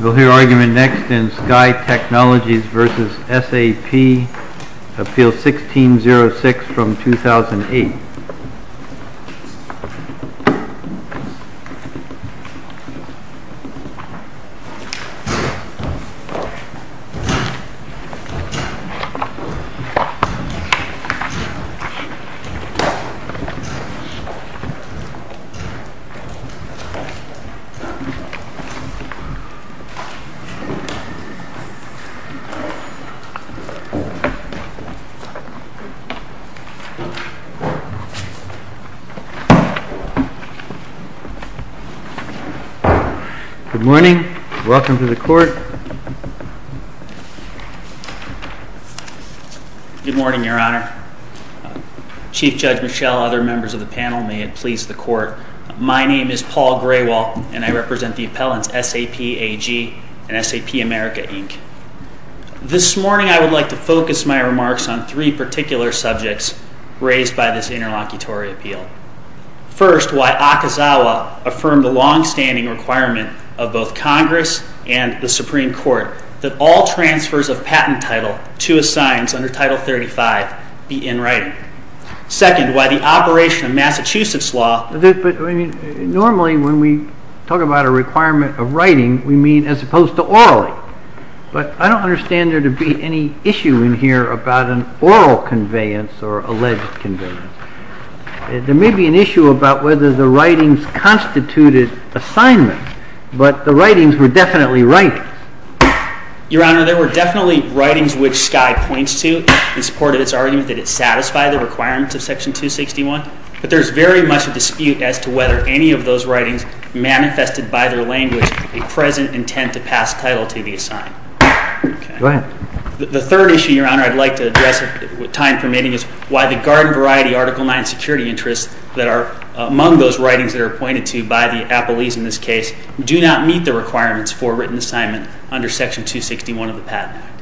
We'll hear argument next in Sky Technologies v. SAP, Appeal 1606 from 2008. Good morning, your honor. Chief Judge Michel, other members of the panel, may it please the court, my name is Paul Grewal and I represent the appellants SAP AG and SAP America, Inc. This morning I would like to focus my remarks on three particular subjects raised by this interlocutory appeal. First, why Akazawa affirmed the longstanding requirement of both Congress and the Supreme Court that all transfers of patent title to assigns under Title 35 be in writing. Second, why the operation of Massachusetts law… But normally when we talk about a requirement of writing we mean as opposed to orally. But I don't understand there to be any issue in here about an oral conveyance or alleged conveyance. There may be an issue about whether the writings constituted assignment, but the writings were definitely writings. Your honor, there were definitely writings which Sky points to in support of its argument that it satisfied the requirements of Section 261, but there is very much a dispute as to whether any of those writings manifested by their language a present intent to pass title to the assigned. The third issue, your honor, I'd like to address, if time permitting, is why the garden variety Article 9 security interests that are among those writings that are appointed to by the appellees in this case do not meet the requirements for written assignment under Section 261 of the Patent Act.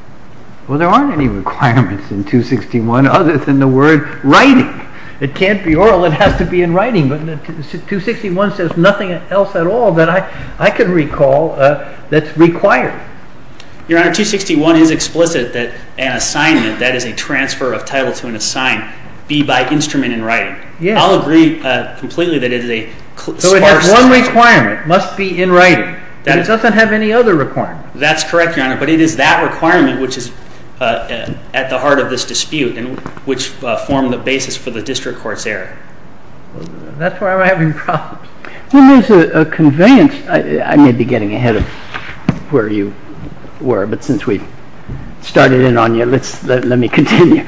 Well, there aren't any requirements in 261 other than the word writing. It can't be oral, it has to be in writing, but 261 says nothing else at all that I can recall that's required. Your honor, 261 is explicit that an assignment that is a transfer of title to an assigned be by instrument in writing. I'll agree completely that it is a sparse assignment. So it has one requirement, must be in writing, and it doesn't have any other requirement. That's correct, your honor, but it is that requirement which is at the heart of this dispute and which formed the basis for the district court's error. That's why I'm having problems. There is a convenience. I may be getting ahead of where you were, but since we started in on you, let me continue.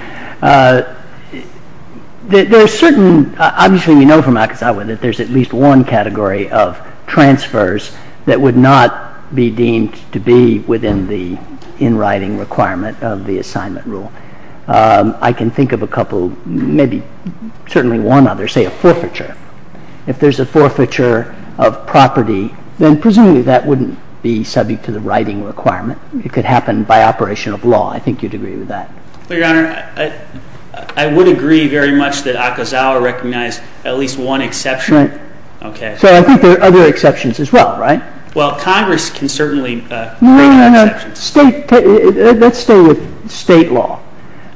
There are certain, obviously we know from Akizawa that there's at least one category of transfers that would not be deemed to be within the in writing requirement of the assignment rule. I can think of a couple, maybe certainly one other, say a forfeiture. If there's a forfeiture of property, then presumably that wouldn't be subject to the writing requirement. It could happen by operation of law. I think you'd agree with that. Your honor, I would agree very much that Akizawa recognized at least one exception. So I think there are other exceptions as well, right? Well, Congress can certainly make exceptions. Let's stay with state law.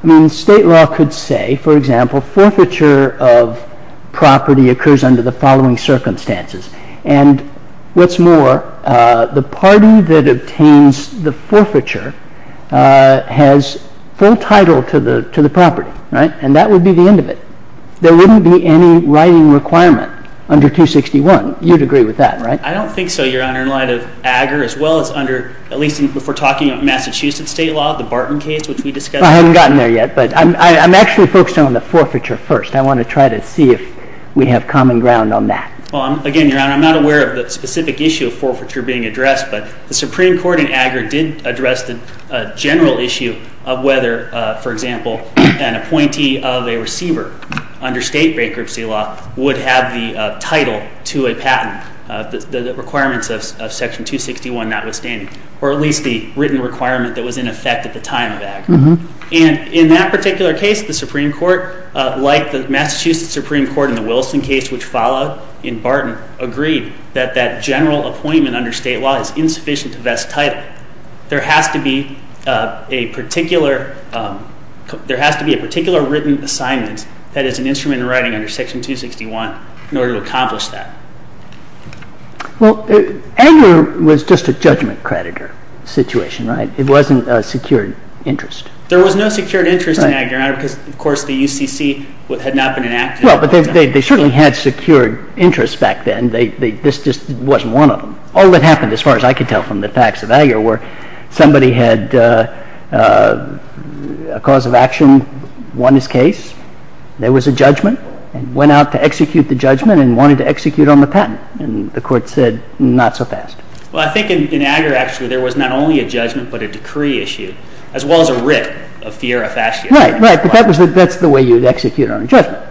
I mean, state law could say, for example, forfeiture of property occurs under the following circumstances, and what's more, the party that obtains the title to the property, right? And that would be the end of it. There wouldn't be any writing requirement under 261. You'd agree with that, right? I don't think so, your honor, in light of AGR as well as under, at least if we're talking about Massachusetts state law, the Barton case, which we discussed. I haven't gotten there yet, but I'm actually focused on the forfeiture first. I want to try to see if we have common ground on that. Well, again, your honor, I'm not aware of the specific issue of forfeiture being addressed, but the Supreme Court in AGR did address the general issue of whether, for example, an appointee of a receiver under state bankruptcy law would have the title to a patent, the requirements of Section 261 notwithstanding, or at least the written requirement that was in effect at the time of AGR. And in that particular case, the Supreme Court, like the Massachusetts Supreme Court in the Wilson case, which followed in Barton, agreed that that general appointment under state law is insufficient to vest title. There has to be a particular written assignment that is an instrument in writing under Section 261 in order to accomplish that. Well, AGR was just a judgment creditor situation, right? It wasn't a secured interest. There was no secured interest in AGR, your honor, because, of course, the UCC had not been enacted. Well, but they certainly had secured interests back then. This just wasn't one of them. All that happened, as far as I could tell from the facts of AGR, were somebody had a cause of action, won his case, there was a judgment, and went out to execute the judgment and wanted to execute on the patent. And the court said, not so fast. Well, I think in AGR, actually, there was not only a judgment but a decree issued, as well as a writ of fear of action. Right, right. But that's the way you'd execute on a judgment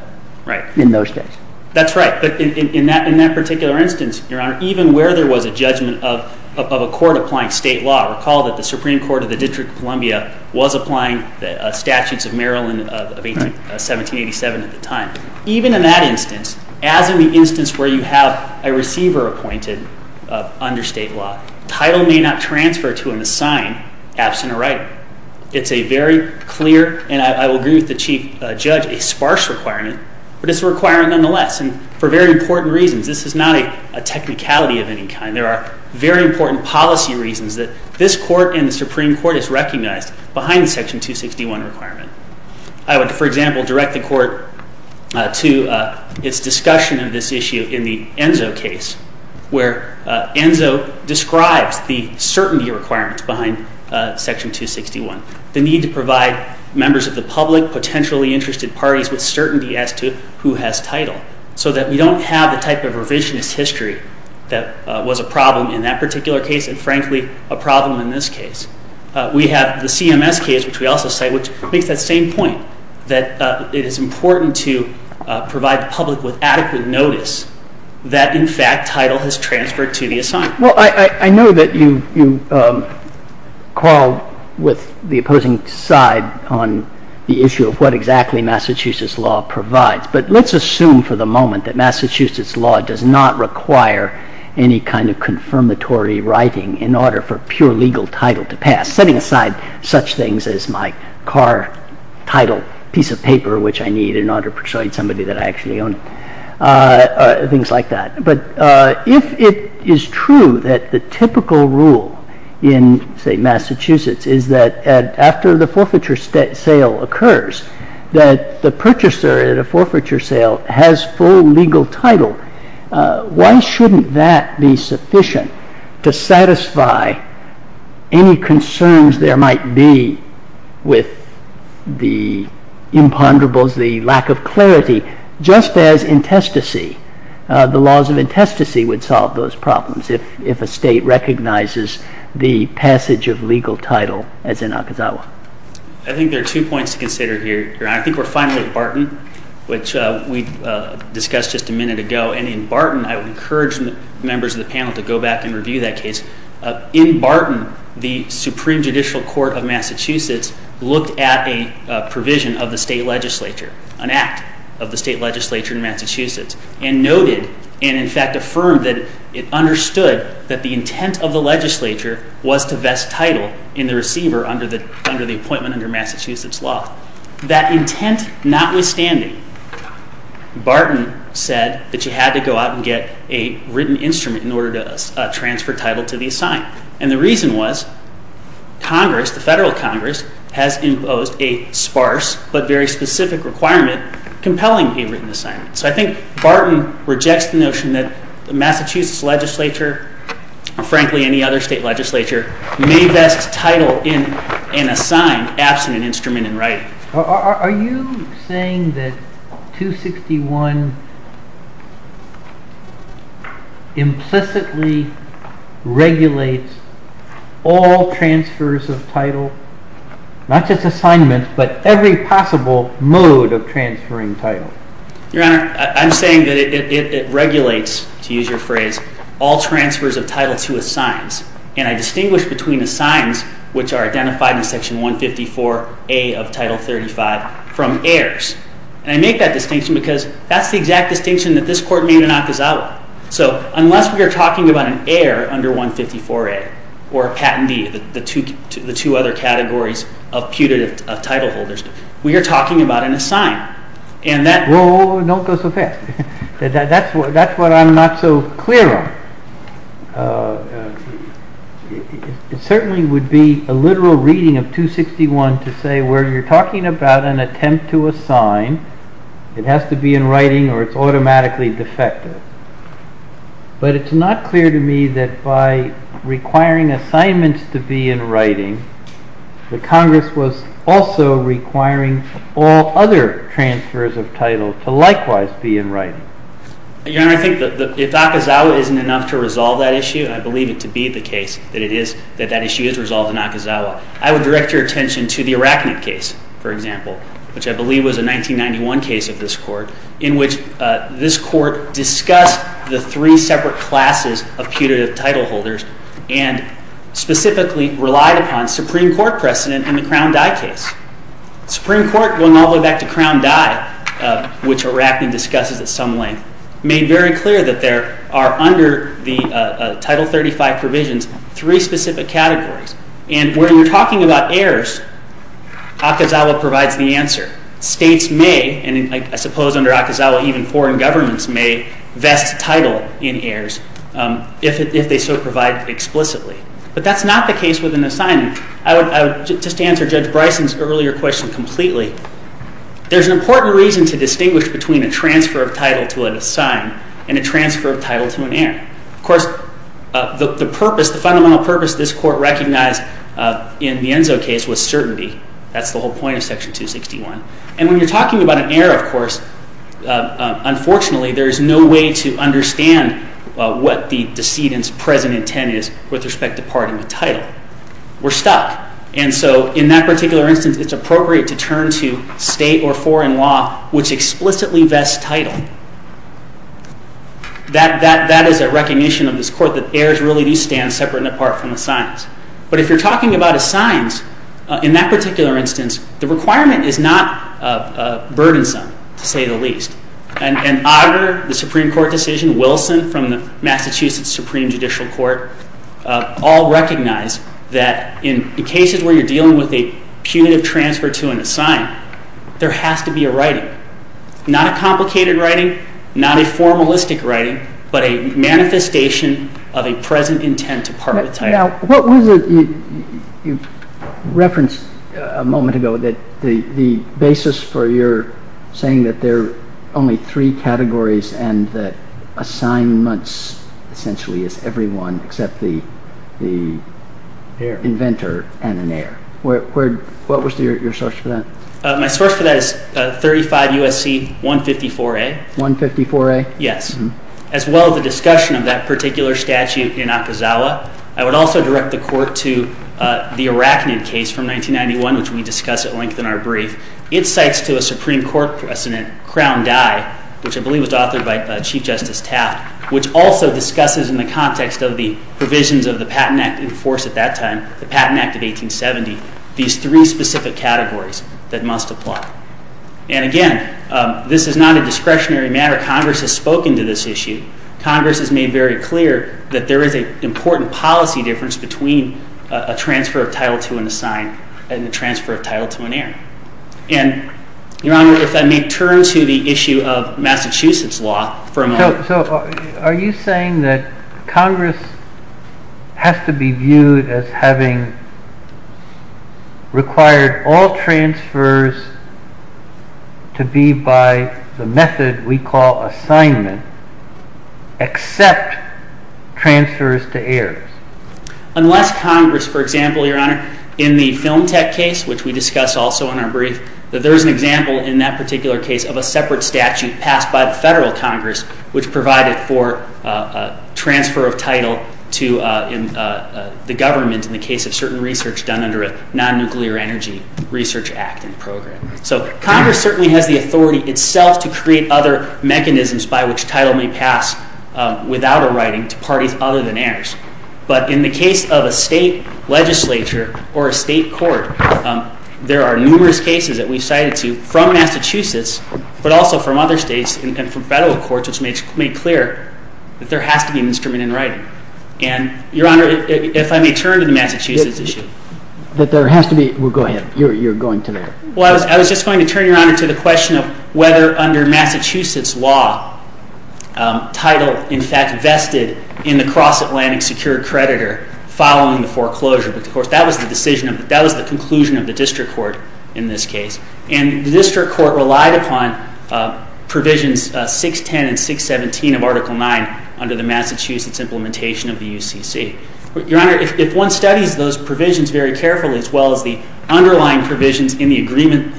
in those days. That's right. But in that particular instance, your honor, even where there was a judgment of a court applying state law, recall that the Supreme Court of the District of Columbia was applying the statutes of Maryland of 1787 at the time. Even in that instance, as in the instance where you have a receiver appointed under state law, title may not transfer to an assigned absent or writer. It's a very clear, and I will agree with the Chief Judge, a sparse requirement, but it's a requirement nonetheless, and for very important reasons. This is not a technicality of any kind. There are very important policy reasons that this court and the Supreme Court is recognized behind the Section 261 requirement. I would, for example, direct the court to its discussion of this issue in the Enzo case, where Enzo describes the certainty requirements behind Section 261, the need to provide members of the public, potentially interested parties, with certainty as to who has title, so that we don't have the type of revisionist history that was a problem in that particular case and, frankly, a problem in this case. We have the CMS case, which we also cite, which makes that same point, that it is important to provide the public with adequate notice that, in fact, title has transferred to the assigned. Well, I know that you quarrel with the opposing side on the issue of what exactly Massachusetts law provides, but let's assume for the moment that Massachusetts law does not require any kind of confirmatory writing in order for pure legal title to pass, setting aside such things as my car title, piece of paper, which I need in order to persuade somebody that I actually own, things like that. But if it is true that the typical rule in, say, Massachusetts is that after the forfeiture sale occurs, that the purchaser at a forfeiture sale has full legal title, why shouldn't that be sufficient to satisfy any concerns there might be with the imponderables, the lack of clarity, just as the laws of intestacy would solve those problems if a state recognizes the passage of legal title, as in Akazawa? I think there are two points to consider here, Your Honor. I think we're finally at Barton, which we discussed just a minute ago. And in Barton, I would encourage members of the panel to go back and review that case. In Barton, the Supreme Judicial Court of Massachusetts looked at a provision of the state legislature, an act of the state legislature in Massachusetts, and noted and, in fact, affirmed that it understood that the intent of the legislature was to vest title in the receiver under the appointment under Massachusetts law. That intent notwithstanding, Barton said that you had to go out and get a written instrument in order to transfer title to the assigned. And the reason was Congress, the federal Congress, has imposed a sparse but very specific requirement compelling a written assignment. So I think Barton rejects the notion that the Massachusetts legislature and frankly any other state legislature Are you saying that 261 implicitly regulates all transfers of title, not just assignments, but every possible mode of transferring title? Your Honor, I'm saying that it regulates, to use your phrase, all transfers of title to assigns. And I distinguish between assigns, which are identified in Section 154A of Title 35, from heirs. And I make that distinction because that's the exact distinction that this Court made in Akazawa. So unless we are talking about an heir under 154A or a patentee, the two other categories of putative title holders, we are talking about an assign. Whoa, whoa, whoa, don't go so fast. That's what I'm not so clear on. It certainly would be a literal reading of 261 to say where you're talking about an attempt to assign, it has to be in writing or it's automatically defective. But it's not clear to me that by requiring assignments to be in writing, the Congress was also requiring all other transfers of title to likewise be in writing. Your Honor, I think if Akazawa isn't enough to resolve that issue, I believe it to be the case that it is, that that issue is resolved in Akazawa. I would direct your attention to the Arachnid case, for example, which I believe was a 1991 case of this Court, in which this Court discussed the three separate classes of putative title holders and specifically relied upon Supreme Court precedent in the Crown Dye case. Supreme Court, going all the way back to Crown Dye, which Arachnid discusses at some length, made very clear that there are under the Title 35 provisions three specific categories. And when you're talking about heirs, Akazawa provides the answer. States may, and I suppose under Akazawa even foreign governments may vest title in heirs if they so provide explicitly. But that's not the case with an assignment. I would just answer Judge Bryson's earlier question completely. There's an important reason to distinguish between a transfer of title to an assigned and a transfer of title to an heir. Of course, the purpose, the fundamental purpose this Court recognized in the Enzo case was certainty. That's the whole point of Section 261. And when you're talking about an heir, of course, unfortunately there is no way to understand what the decedent's present intent is with respect to parting the title. We're stuck. And so in that particular instance, it's appropriate to turn to state or foreign law which explicitly vests title. That is a recognition of this Court that heirs really do stand separate and apart from assigns. But if you're talking about assigns, in that particular instance, the requirement is not burdensome, to say the least. And Auger, the Supreme Court decision, all recognize that in cases where you're dealing with a punitive transfer to an assigned, there has to be a writing. Not a complicated writing, not a formalistic writing, but a manifestation of a present intent to part with title. Now, what was it you referenced a moment ago that the basis for your saying that there are only three categories and that assignments essentially is everyone except the inventor and an heir. What was your source for that? My source for that is 35 U.S.C. 154A. 154A? Yes. As well as the discussion of that particular statute in Akazawa, I would also direct the Court to the Arachnid case from 1991, which we discuss at length in our brief. It cites to a Supreme Court precedent, Crown Die, which I believe was authored by Chief Justice Taft, which also discusses in the context of the provisions of the Patent Act and force at that time, the Patent Act of 1870, these three specific categories that must apply. And again, this is not a discretionary matter. Congress has spoken to this issue. Congress has made very clear that there is an important policy difference between a transfer of title to an assigned and a transfer of title to an heir. And, Your Honor, if I may turn to the issue of Massachusetts law for a moment. So, are you saying that Congress has to be viewed as having required all transfers to be by the method we call assignment except transfers to heirs? Unless Congress, for example, Your Honor, in the Film Tech case, which we discuss also in our brief, that there is an example in that particular case of a separate statute passed by the Federal Congress, which provided for a transfer of title to the government in the case of certain research done under a non-nuclear energy research act and program. So, Congress certainly has the authority itself to create other mechanisms by which title may pass without a writing to parties other than heirs. But in the case of a state legislature or a state court, there are numerous cases that we've cited to from Massachusetts but also from other states and from federal courts which made clear that there has to be an instrument in writing. And, Your Honor, if I may turn to the Massachusetts issue. But there has to be... Well, go ahead. You're going to there. Well, I was just going to turn, Your Honor, to the question of whether under Massachusetts law title in fact vested in the cross-Atlantic secure creditor following the foreclosure. But, of course, that was the conclusion of the district court in this case. And the district court relied upon provisions 610 and 617 of Article 9 under the Massachusetts implementation of the UCC. Your Honor, if one studies those provisions very carefully as well as the underlying provisions in the agreement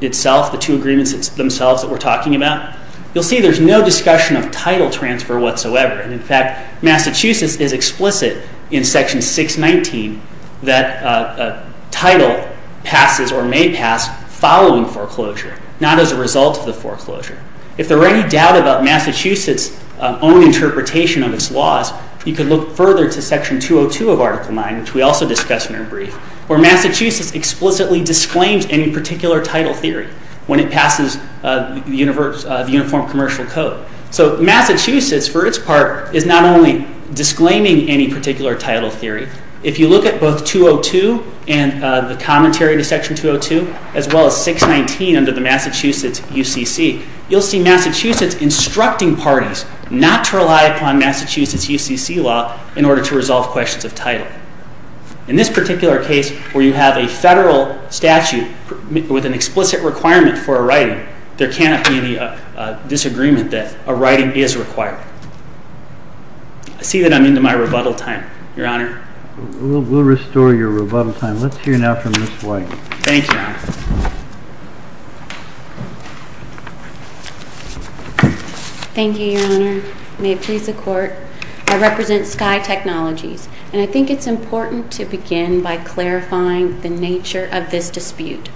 itself, the two agreements themselves that we're talking about, you'll see there's no discussion of title transfer whatsoever. And, in fact, Massachusetts is explicit in Section 619 that title passes or may pass following foreclosure not as a result of the foreclosure. If there were any doubt about Massachusetts' own interpretation of its laws, you could look further to Section 202 of Article 9 which we also discussed in our brief where Massachusetts explicitly disclaims any particular title theory when it passes the Uniform Commercial Code. So Massachusetts, for its part, is not only disclaiming any particular title theory. If you look at both 202 and the commentary to Section 202 as well as 619 under the Massachusetts UCC, you'll see Massachusetts instructing parties not to rely upon Massachusetts' UCC law in order to resolve questions of title. In this particular case where you have a federal statute with an explicit requirement for a writing, there cannot be any disagreement that a writing is required. I see that I'm into my rebuttal time, Your Honor. We'll restore your rebuttal time. Let's hear now from Ms. White. Thank you, Your Honor. Thank you, Your Honor. May it please the Court. I represent Sky Technologies and I think it's important to begin by clarifying the nature of this dispute.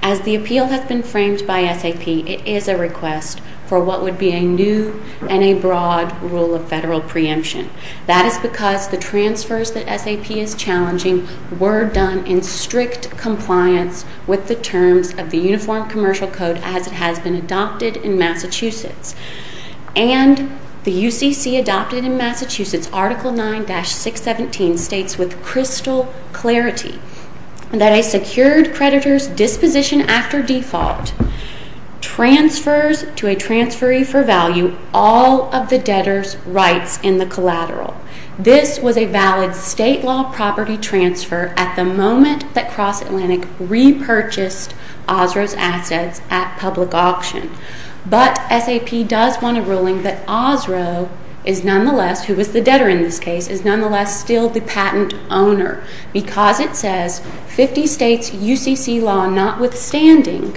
As the appeal has been framed by SAP, it is a request for what would be a new and a broad rule of federal preemption. That is because the transfers that SAP is challenging were done in strict compliance with the terms of the Uniform Commercial Code as it has been adopted in Massachusetts. And the UCC adopted in Massachusetts Article 9-617 states with crystal clarity that a secured creditor's disposition after default transfers to a transferee for value all of the debtor's rights in the collateral. This was a valid state law property transfer at the moment that Cross Atlantic repurchased Osro's assets at public auction. But SAP does want a ruling that Osro is nonetheless who was the debtor in this case is nonetheless still the patent owner because it says 50 states UCC law notwithstanding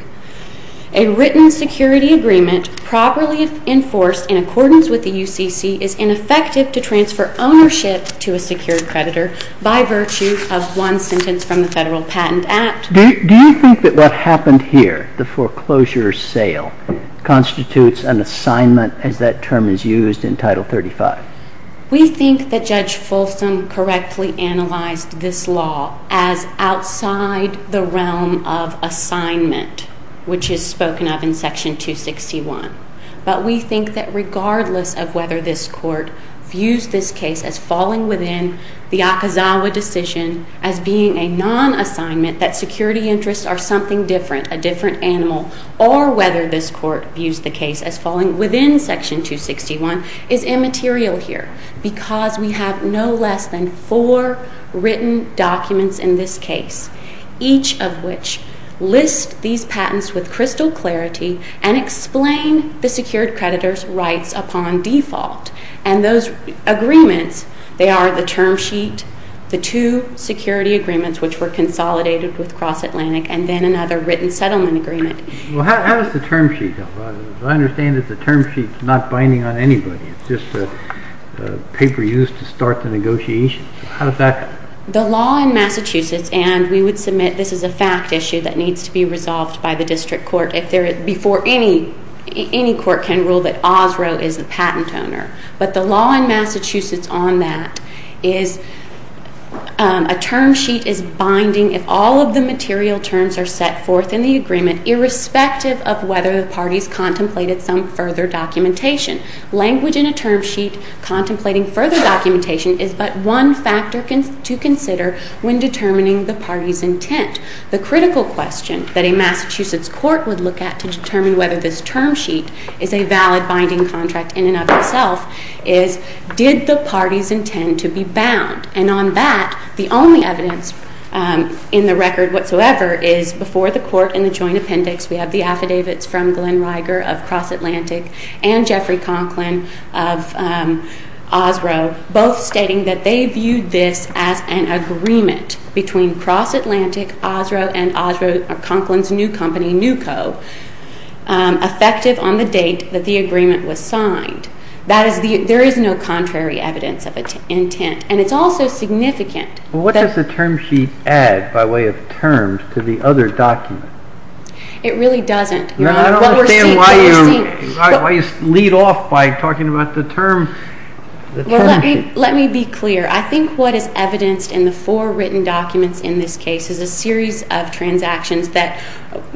a written security agreement properly enforced in accordance with the UCC is ineffective to transfer ownership to a secured creditor by virtue of one sentence from the Federal Patent Act. Do you think that what happened here the foreclosure sale constitutes an assignment as that term is used in Title 35? We think that Judge Folsom correctly analyzed this law as outside the realm of assignment which is spoken of in Section 261. But we think that regardless of whether this Court views this case as falling within the Akazawa decision as being a non-assignment that security interests are something different a different animal or whether this Court views the case as falling within Section 261 is immaterial here because we have no less than four written documents in this case each of which lists these patents with crystal clarity and explain the secured creditor's rights upon default and those agreements they are the term sheet the two security agreements which were consolidated with Cross-Atlantic and then another written settlement agreement How does the term sheet go? I understand that the term sheet is not binding on anybody it's just a paper used to start the negotiations How does that go? The law in Massachusetts and we would submit this is a fact issue that needs to be resolved by the District Court before any court can rule that Osrow is the patent owner but the law in Massachusetts on that is a term sheet is binding if all of the material terms are set forth in the agreement irrespective of whether the parties contemplated some further documentation. Language in a term sheet contemplating further documentation is but one factor to consider when determining the parties intent. The critical question that a Massachusetts court would look at to determine whether this term sheet is a valid binding contract in and of itself is did the parties intend to be bound and on that the only evidence in the record whatsoever is before the court in the joint appendix we have the affidavits from Glenn Riger of Cross-Atlantic and Jeffrey Conklin of Osrow both stating that they viewed this as an agreement between Cross-Atlantic, Osrow, and Osrow Conklin's new company NUCO effective on the date that the agreement was signed there is no contrary evidence of intent and it's also significant What does the term sheet add by way of terms to the other document? It really doesn't I don't understand why you lead off by talking about the Let me be clear I think what is evidenced in the four written documents in this case is a series of transactions that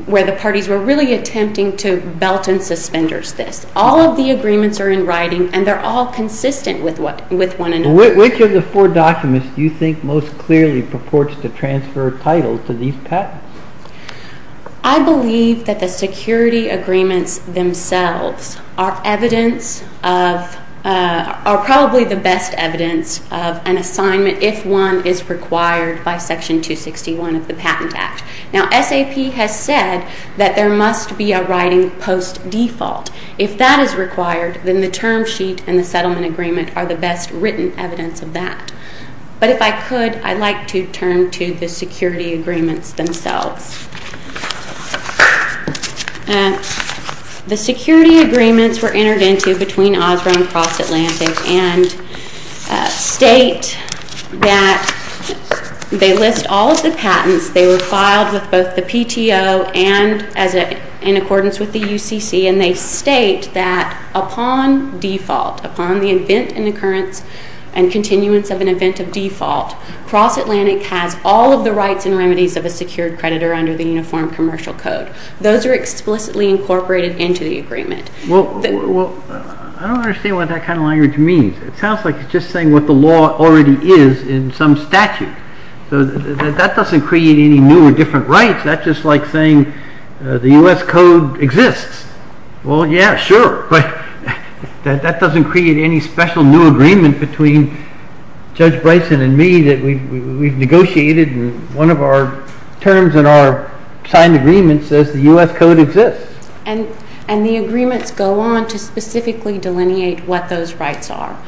where the parties were really attempting to belt and suspenders this all of the agreements are in writing and they're all consistent with one another Which of the four documents do you think most clearly purports to transfer title to these patents? I believe that the security agreements themselves are evidence are probably the best evidence of an assignment if one is required by section 261 of the patent act. Now SAP has said that there must be a writing post default. If that is required then the term sheet and the settlement agreement are the best written evidence of that. But if I could I'd like to turn to the security agreements themselves The security agreements were entered into between Osborne and Cross Atlantic and state that they list all of the patents they were filed with both the PTO and in accordance with the UCC and they state that upon default upon the event and occurrence and continuance of an event of default Cross Atlantic has all of the rights and remedies of a secured creditor under the uniform commercial code. Those are explicitly incorporated into the agreement. Well, I don't understand what that kind of language means. It sounds like it's just saying what the law already is in some statute. That doesn't create any new or different rights. That's just like saying the U.S. code exists. Well yeah, sure, but that doesn't create any special new agreement between Judge Bryson and me that we've negotiated and one of our terms in our signed agreement says the U.S. code exists. And the agreements go on to specifically delineate what those rights are.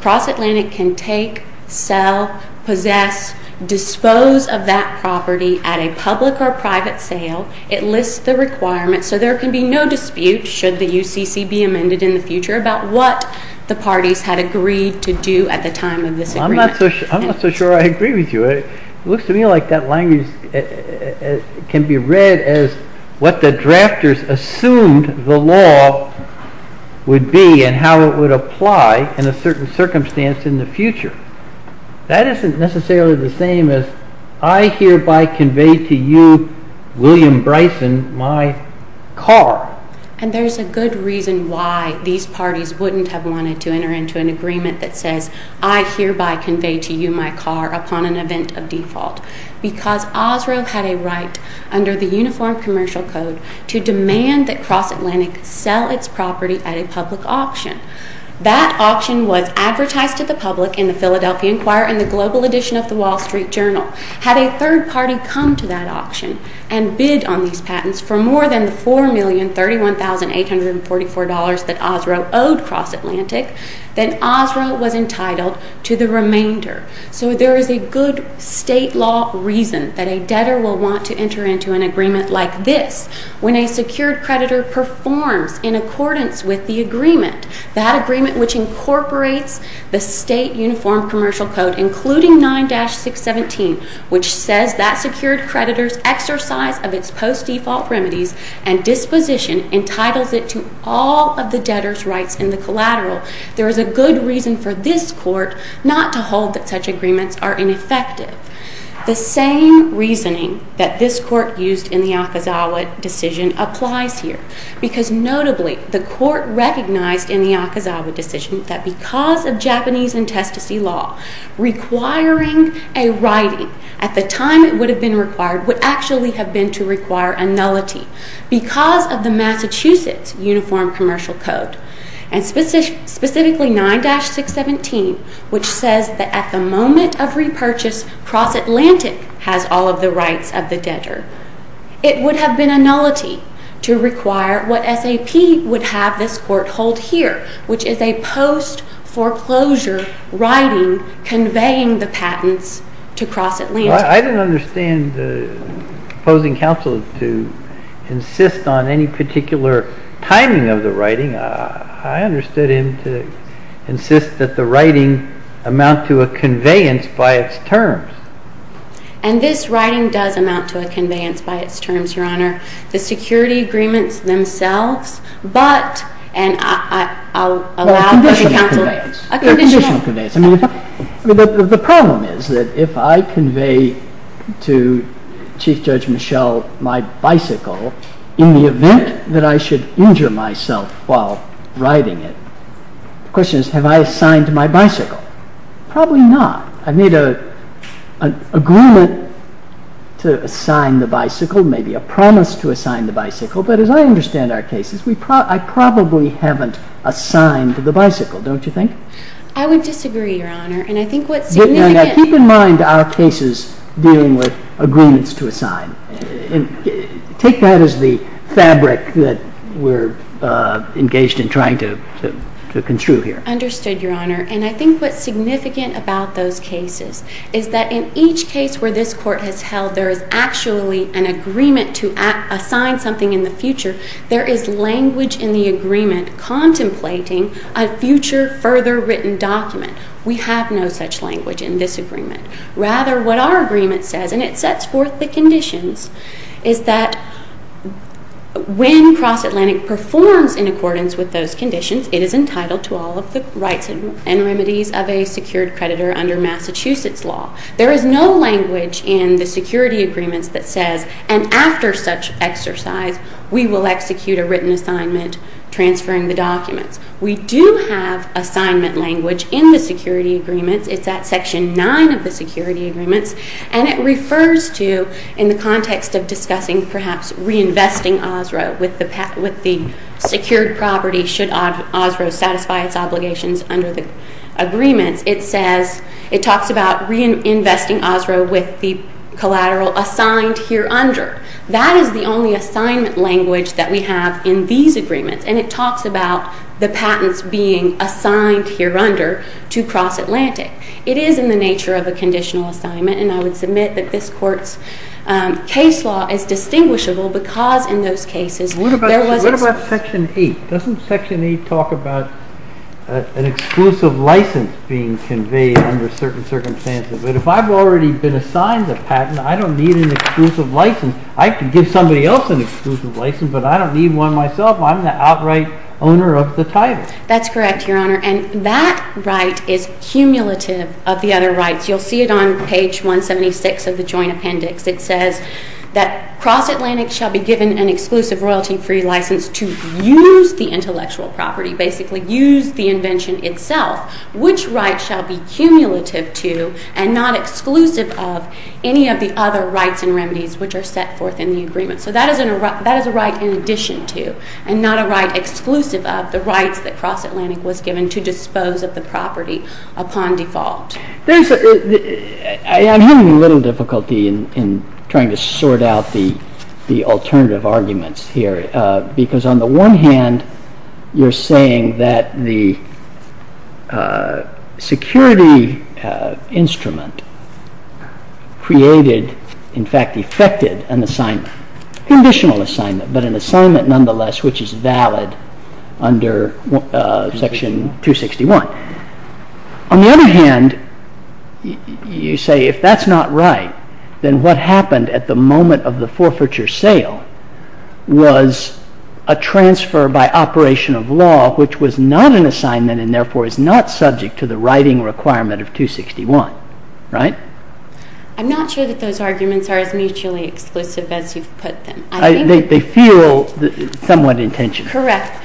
Cross Atlantic can take sell, possess dispose of that property at a public or private sale it lists the requirements so there can be no dispute should the UCC be amended in the future about what the parties had agreed to do at the time of this agreement. I'm not so sure I agree with you. It looks to me like that language can be read as what the drafters assumed the law would be and how it would apply in a certain circumstance in the future. That isn't necessarily the same as I hereby convey to you, William Bryson my car. And there's a good reason why these parties wouldn't have wanted to I hereby convey to you my car upon an event of default because Osro had a right under the Uniform Commercial Code to demand that Cross Atlantic sell its property at a public auction. That auction was advertised to the public in the Philadelphia Inquirer and the Global Edition of the Wall Street Journal had a third party come to that auction and bid on these patents for more than the $4,031,844 that Osro owed Cross Atlantic then Osro was entitled to the remainder. So there is a good state law reason that a debtor will want to enter into an agreement like this when a secured creditor performs in accordance with the agreement that agreement which incorporates the state Uniform Commercial Code including 9-617 which says that secured creditor's exercise of its post-default remedies and disposition entitles it to all of the there is a good reason for this court not to hold that such agreements are ineffective. The same reasoning that this court used in the Akazawa decision applies here because notably the court recognized in the Akazawa decision that because of Japanese intestacy law requiring a writing at the time it would have been required would actually have been to require a nullity because of the Massachusetts Uniform Commercial Code and specifically 9-617 which says that at the moment of repurchase Cross Atlantic has all of the rights of the debtor. It would have been a nullity to require what SAP would have this court hold here which is a post-foreclosure writing conveying the patents to Cross Atlantic. I don't understand the opposing counsel to insist on any particular timing of the writing. I understood him to insist that the writing amount to a conveyance by its terms. And this writing does amount to a conveyance by its terms Your Honor. The security agreements themselves but and I'll allow a conditional conveyance. The problem is that if I convey to Chief Judge Michelle my bicycle in the event that I should injure myself while riding it. The question is have I assigned my bicycle? Probably not. I've made an agreement to assign the bicycle maybe a promise to assign the bicycle but as I understand our cases I probably haven't assigned the bicycle, don't you think? I would disagree, Your Honor. Keep in mind our cases dealing with agreements to assign. Take that as the fabric that we're engaged in trying to construe here. Understood, Your Honor. And I think what's significant about those cases is that in each case where this Court has held there is actually an agreement to assign something in the future there is language in the agreement contemplating a future further written document. We have no such language in this agreement. Rather what our agreement says and it sets forth the conditions is that when Cross-Atlantic performs in accordance with those conditions it is entitled to all of the rights and remedies of a secured creditor under Massachusetts law. There is no language in the security agreements that says and after such exercise we will execute a written assignment transferring the documents. We do have assignment language in the security agreements. It's at section 9 of the security agreements and it refers to in the context of discussing perhaps reinvesting Osro with the secured property should Osro satisfy its obligations under the agreements. It says it talks about reinvesting Osro with the collateral assigned here under. That is the only assignment language that we have in these agreements and it talks about the patents being assigned here under to Cross-Atlantic. It is in the nature of a conditional assignment and I would submit that this court's case law is distinguishable because in those cases there was... What about section 8? Doesn't section 8 talk about an exclusive license being conveyed under certain circumstances but if I've already been assigned the patent I don't need an exclusive license. I could give somebody else an exclusive license but I don't need one myself I'm the outright owner of the title. That's correct your honor and that right is cumulative of the other rights. You'll see it on page 176 of the joint appendix it says that Cross-Atlantic shall be given an exclusive royalty free license to use the intellectual property. Basically use the invention itself. Which right shall be cumulative to and not exclusive of any of the other rights and remedies which are set forth in the agreement. So that is a right in addition to and not a right exclusive of the rights that Cross-Atlantic was given to dispose of the property upon default. I'm having a little difficulty in trying to sort out the alternative arguments here because on the one hand you're saying that the security instrument created in fact effected an assignment, conditional assignment but an assignment nonetheless which is section 261. On the other hand you say if that's not right then what happened at the moment of the forfeiture sale was a transfer by operation of law which was not an assignment and therefore is not subject to the writing requirement of 261. Right? I'm not sure that those arguments are as mutually exclusive as you've put them. They feel somewhat in tension. Correct.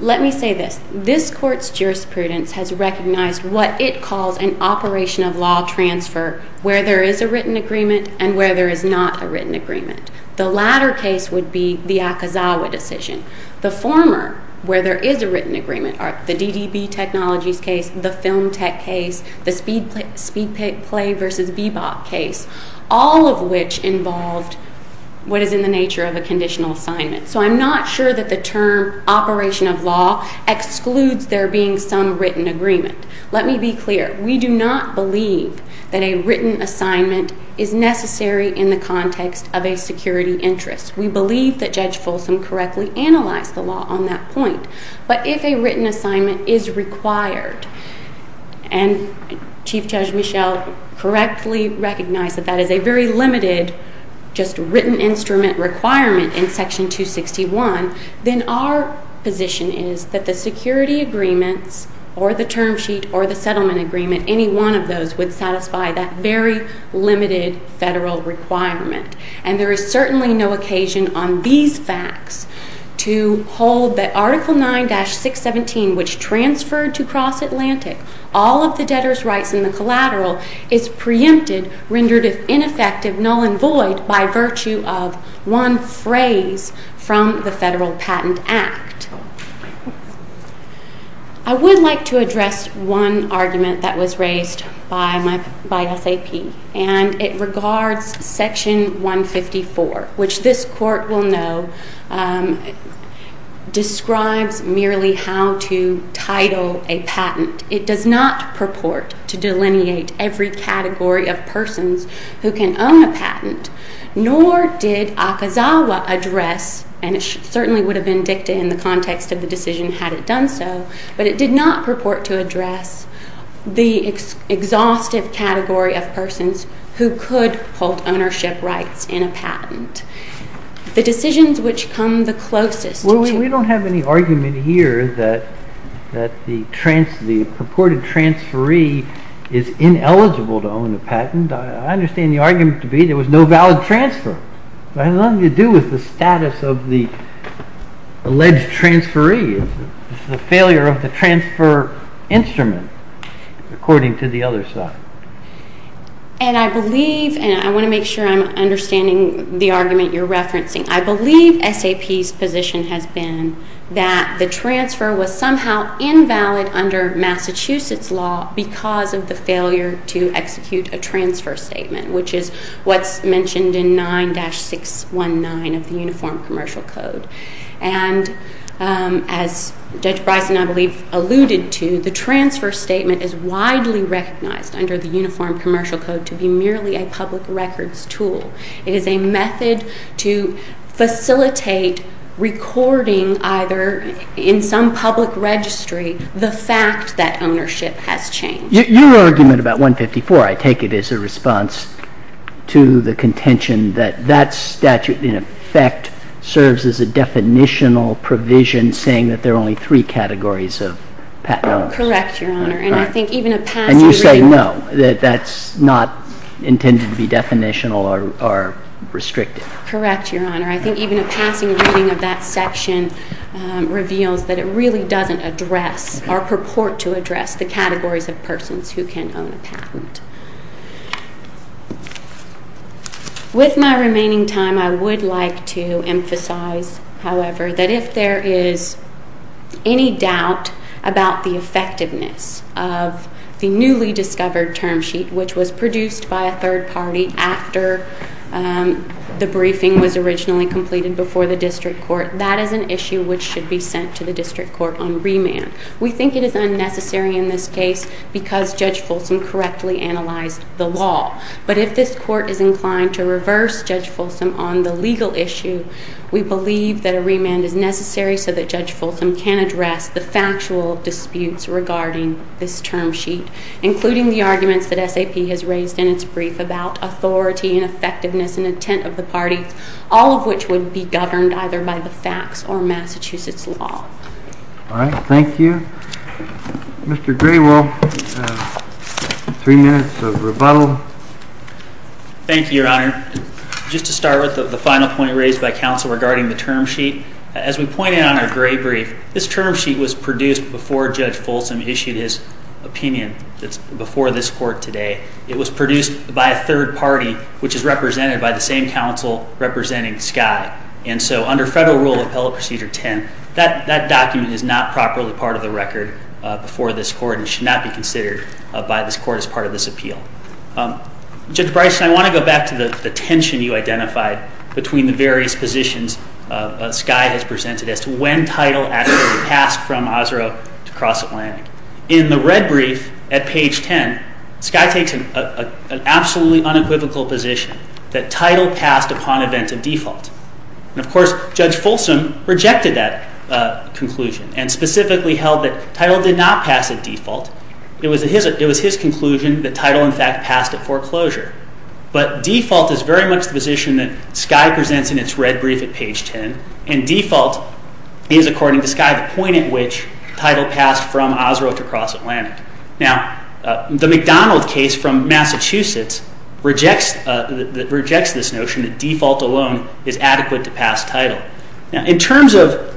Let me say this. This court's jurisprudence has recognized what it calls an operation of law transfer where there is a written agreement and where there is not a written agreement. The latter case would be the Akazawa decision. The former, where there is a written agreement are the DDB Technologies case, the Film Tech case, the Speedplay vs. Bebop case, all of which involved what is in the nature of a conditional assignment. So I'm not sure that the term operation of law excludes there being some written agreement. Let me be clear. We do not believe that a written assignment is necessary in the context of a security interest. We believe that Judge Folsom correctly analyzed the law on that point. But if a written assignment is required and Chief Judge Michelle correctly recognized that that is a very limited just written instrument requirement in Section 261, then our position is that the security agreements or the term sheet or the settlement agreement any one of those would satisfy that very limited federal requirement. And there is certainly no occasion on these facts to hold that Article 9-617, which transferred to Cross Atlantic all of the debtor's rights and the collateral is preempted, rendered ineffective, null and void by virtue of one phrase from the Federal Patent Act. I would like to address one argument that was raised by SAP and it regards Section 154, which this Court will know describes merely how to title a patent. It does not purport to delineate every who can own a patent nor did Akazawa address, and it certainly would have been dictated in the context of the decision had it done so, but it did not purport to address the exhaustive category of persons who could hold ownership rights in a patent. The decisions which come the closest to... Well, we don't have any argument here that the purported transferee is ineligible to own a patent. I understand the argument to be there was no valid transfer. It has nothing to do with the status of the alleged transferee. It's the failure of the transfer instrument according to the other side. And I believe, and I want to make sure I'm understanding the argument you're referencing, I believe SAP's position has been that the transfer was somehow invalid under Massachusetts law because of the failure to execute a transfer statement, which is what's mentioned in 9-619 of the Uniform Commercial Code. And as Judge Bryson, I believe, alluded to, the transfer statement is widely recognized under the Uniform Commercial Code to be merely a public records tool. It is a method to facilitate recording either in some public registry the fact that ownership has changed. Your argument about 154, I take it, is a response to the contention that that statute, in effect, serves as a definitional provision saying that there are only three categories of patent owners. Correct, Your Honor. And I think even a passing reading... And you say no, that that's not intended to be definitional or restricted. Correct, Your Honor. I think even a passing reading of that section reveals that it really doesn't address or purport to address the categories of persons who can own a patent. With my remaining time, I would like to emphasize, however, that if there is any doubt about the effectiveness of the newly discovered term sheet, which was produced by a third party after the briefing was originally completed before the district court, that is an issue which should be sent to the district court on remand. We think it is unnecessary in this case because Judge Folsom correctly analyzed the law. But if this court is inclined to reverse Judge Folsom on the legal issue, we believe that a remand is necessary so that Judge Folsom can address the factual disputes regarding this term sheet, including the arguments that SAP has raised in its brief about authority and effectiveness and intent of the parties, all of which would be in line with the law. All right. Thank you. Mr. Gray, we'll have three minutes of rebuttal. Thank you, Your Honor. Just to start with the final point raised by counsel regarding the term sheet, as we pointed out in our gray brief, this term sheet was produced before Judge Folsom issued his opinion before this court today. It was produced by a third party which is represented by the same counsel representing Sky. And so under Federal Rule Appellate Procedure 10, that document is not properly part of the record before this court and should not be considered by this court as part of this appeal. Judge Bryson, I want to go back to the tension you identified between the various positions Sky has presented as to when title actually passed from Osro to Cross Atlantic. In the red brief at page 10, Sky takes an absolutely unequivocal position that title passed upon event of default. And of course, Judge Folsom rejected that conclusion and specifically held that title did not pass at default. It was his conclusion that title in fact passed at foreclosure. But default is very much the position that Sky presents in its red brief at page 10 and default is, according to Sky, the point at which title passed from Osro to Cross Atlantic. Now, the McDonald case from Massachusetts rejects this notion that default alone is adequate to pass title. In terms of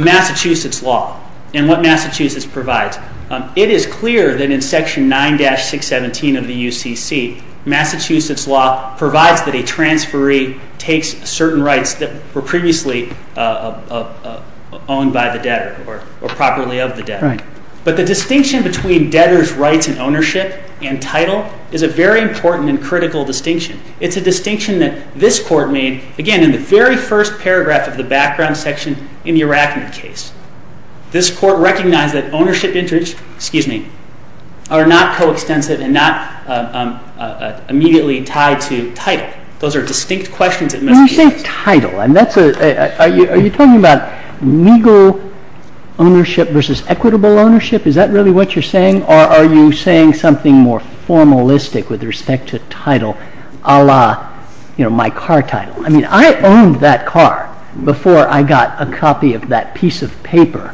Massachusetts law and what Massachusetts provides, it is clear that in section 9-617 of the UCC, Massachusetts law provides that a transferee takes certain rights that were previously owned by the debtor or properly of the debtor. But the distinction between debtor's rights and ownership and title is a very important and critical distinction. It's a distinction that this Court made, again, in the very first paragraph of the background section in the Arachne case. This Court recognized that ownership interests, excuse me, are not coextensive and not immediately tied to title. Those are distinct questions that must be asked. When you say title, are you talking about legal ownership versus equitable ownership? Is that really what you're saying, or are you saying something more formalistic with respect to title, a la my car title? I mean, I owned that car before I got a copy of that piece of paper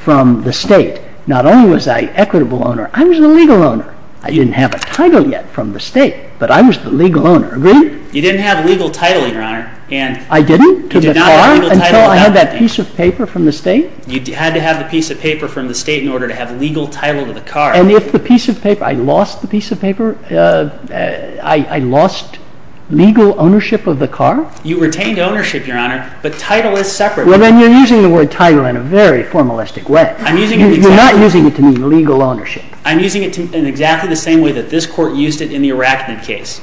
from the State. Not only was I equitable owner, I was the legal owner. I didn't have a title yet from the State, but I was the legal owner. Agree? You didn't have legal title, Your Honor. I didn't? Until I had that piece of paper from the State? You had to have the piece of paper from the State in order to have legal title to the car. And if the piece of paper, I lost the piece of paper? I lost legal ownership of the car? You retained ownership, Your Honor, but title is separate. Well, then you're using the word title in a very formalistic way. You're not using it to mean legal ownership. I'm using it in exactly the same way that this Court used it in the Arachne case.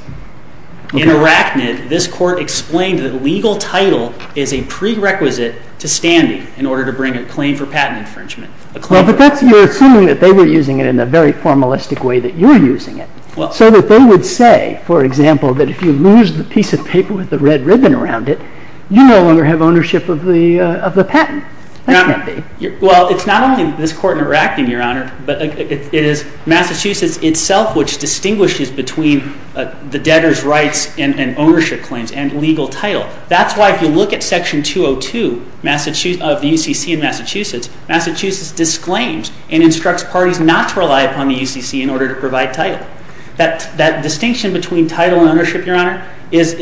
In Arachne, this Court explained that legal title is a prerequisite to standing in order to bring a claim for patent infringement. But you're assuming that they were using it in a very formalistic way that you're using it. So that they would say, for example, that if you lose the piece of paper with the red ribbon around it, you no longer have ownership of the patent. That can't be. Well, it's not only this Court in Arachne, Your Honor, but it is Massachusetts itself which distinguishes between the debtor's rights and ownership claims and legal title. That's why if you look at Section 202 of the UCC in Massachusetts, Massachusetts disclaims and instructs parties not to rely upon the UCC in order to provide title. That distinction between title and ownership, Your Honor, is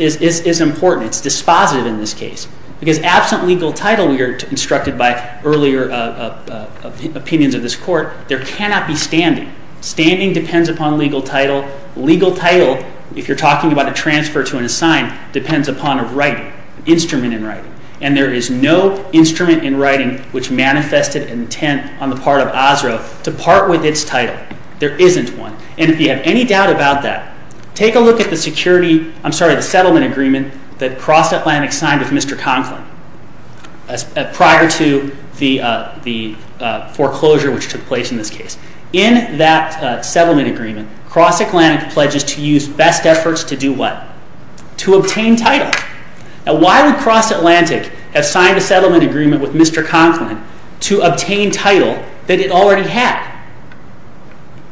important. It's dispositive in this case. Because absent legal title, we are instructed by earlier opinions of this Court, there cannot be standing. Standing depends upon legal title. Legal title, if you're talking about a transfer to an assigned, depends upon a right, instrument in writing. And there is no instrument in writing which manifested intent on the part of ASRA to part with its title. There isn't one. And if you have any doubt about that, take a look at the security, I'm sorry, the settlement agreement that Cross Atlantic signed with Mr. Conklin prior to the foreclosure which took place in this case. In that settlement agreement, Cross Atlantic pledges to use best efforts to do what? To obtain title. Now why would Cross Atlantic have signed a settlement agreement with Mr. Conklin to obtain title that it already had?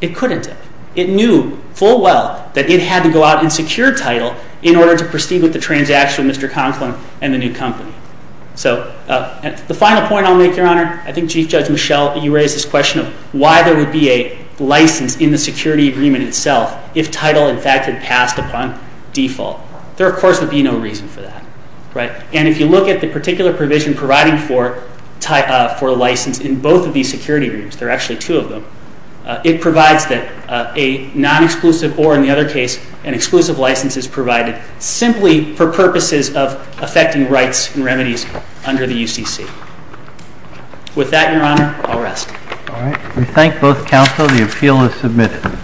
It couldn't have. It knew full well that it had to go out and secure title in order to proceed with the transaction with Mr. Conklin and the new company. So the final point I'll make, Your Honor, I think Chief Judge Michel, you raised this question of why there would be a license in the security agreement itself if title in fact had passed upon default. There of course would be no reason for that. And if you look at the particular provision providing for license in both of these security agreements, there are actually two of them, it provides that a non-exclusive or in the other case an exclusive license is provided simply for purposes of affecting rights and remedies under the UCC. With that, Your Honor, I'll rest. We thank both counsel. The appeal is submitted.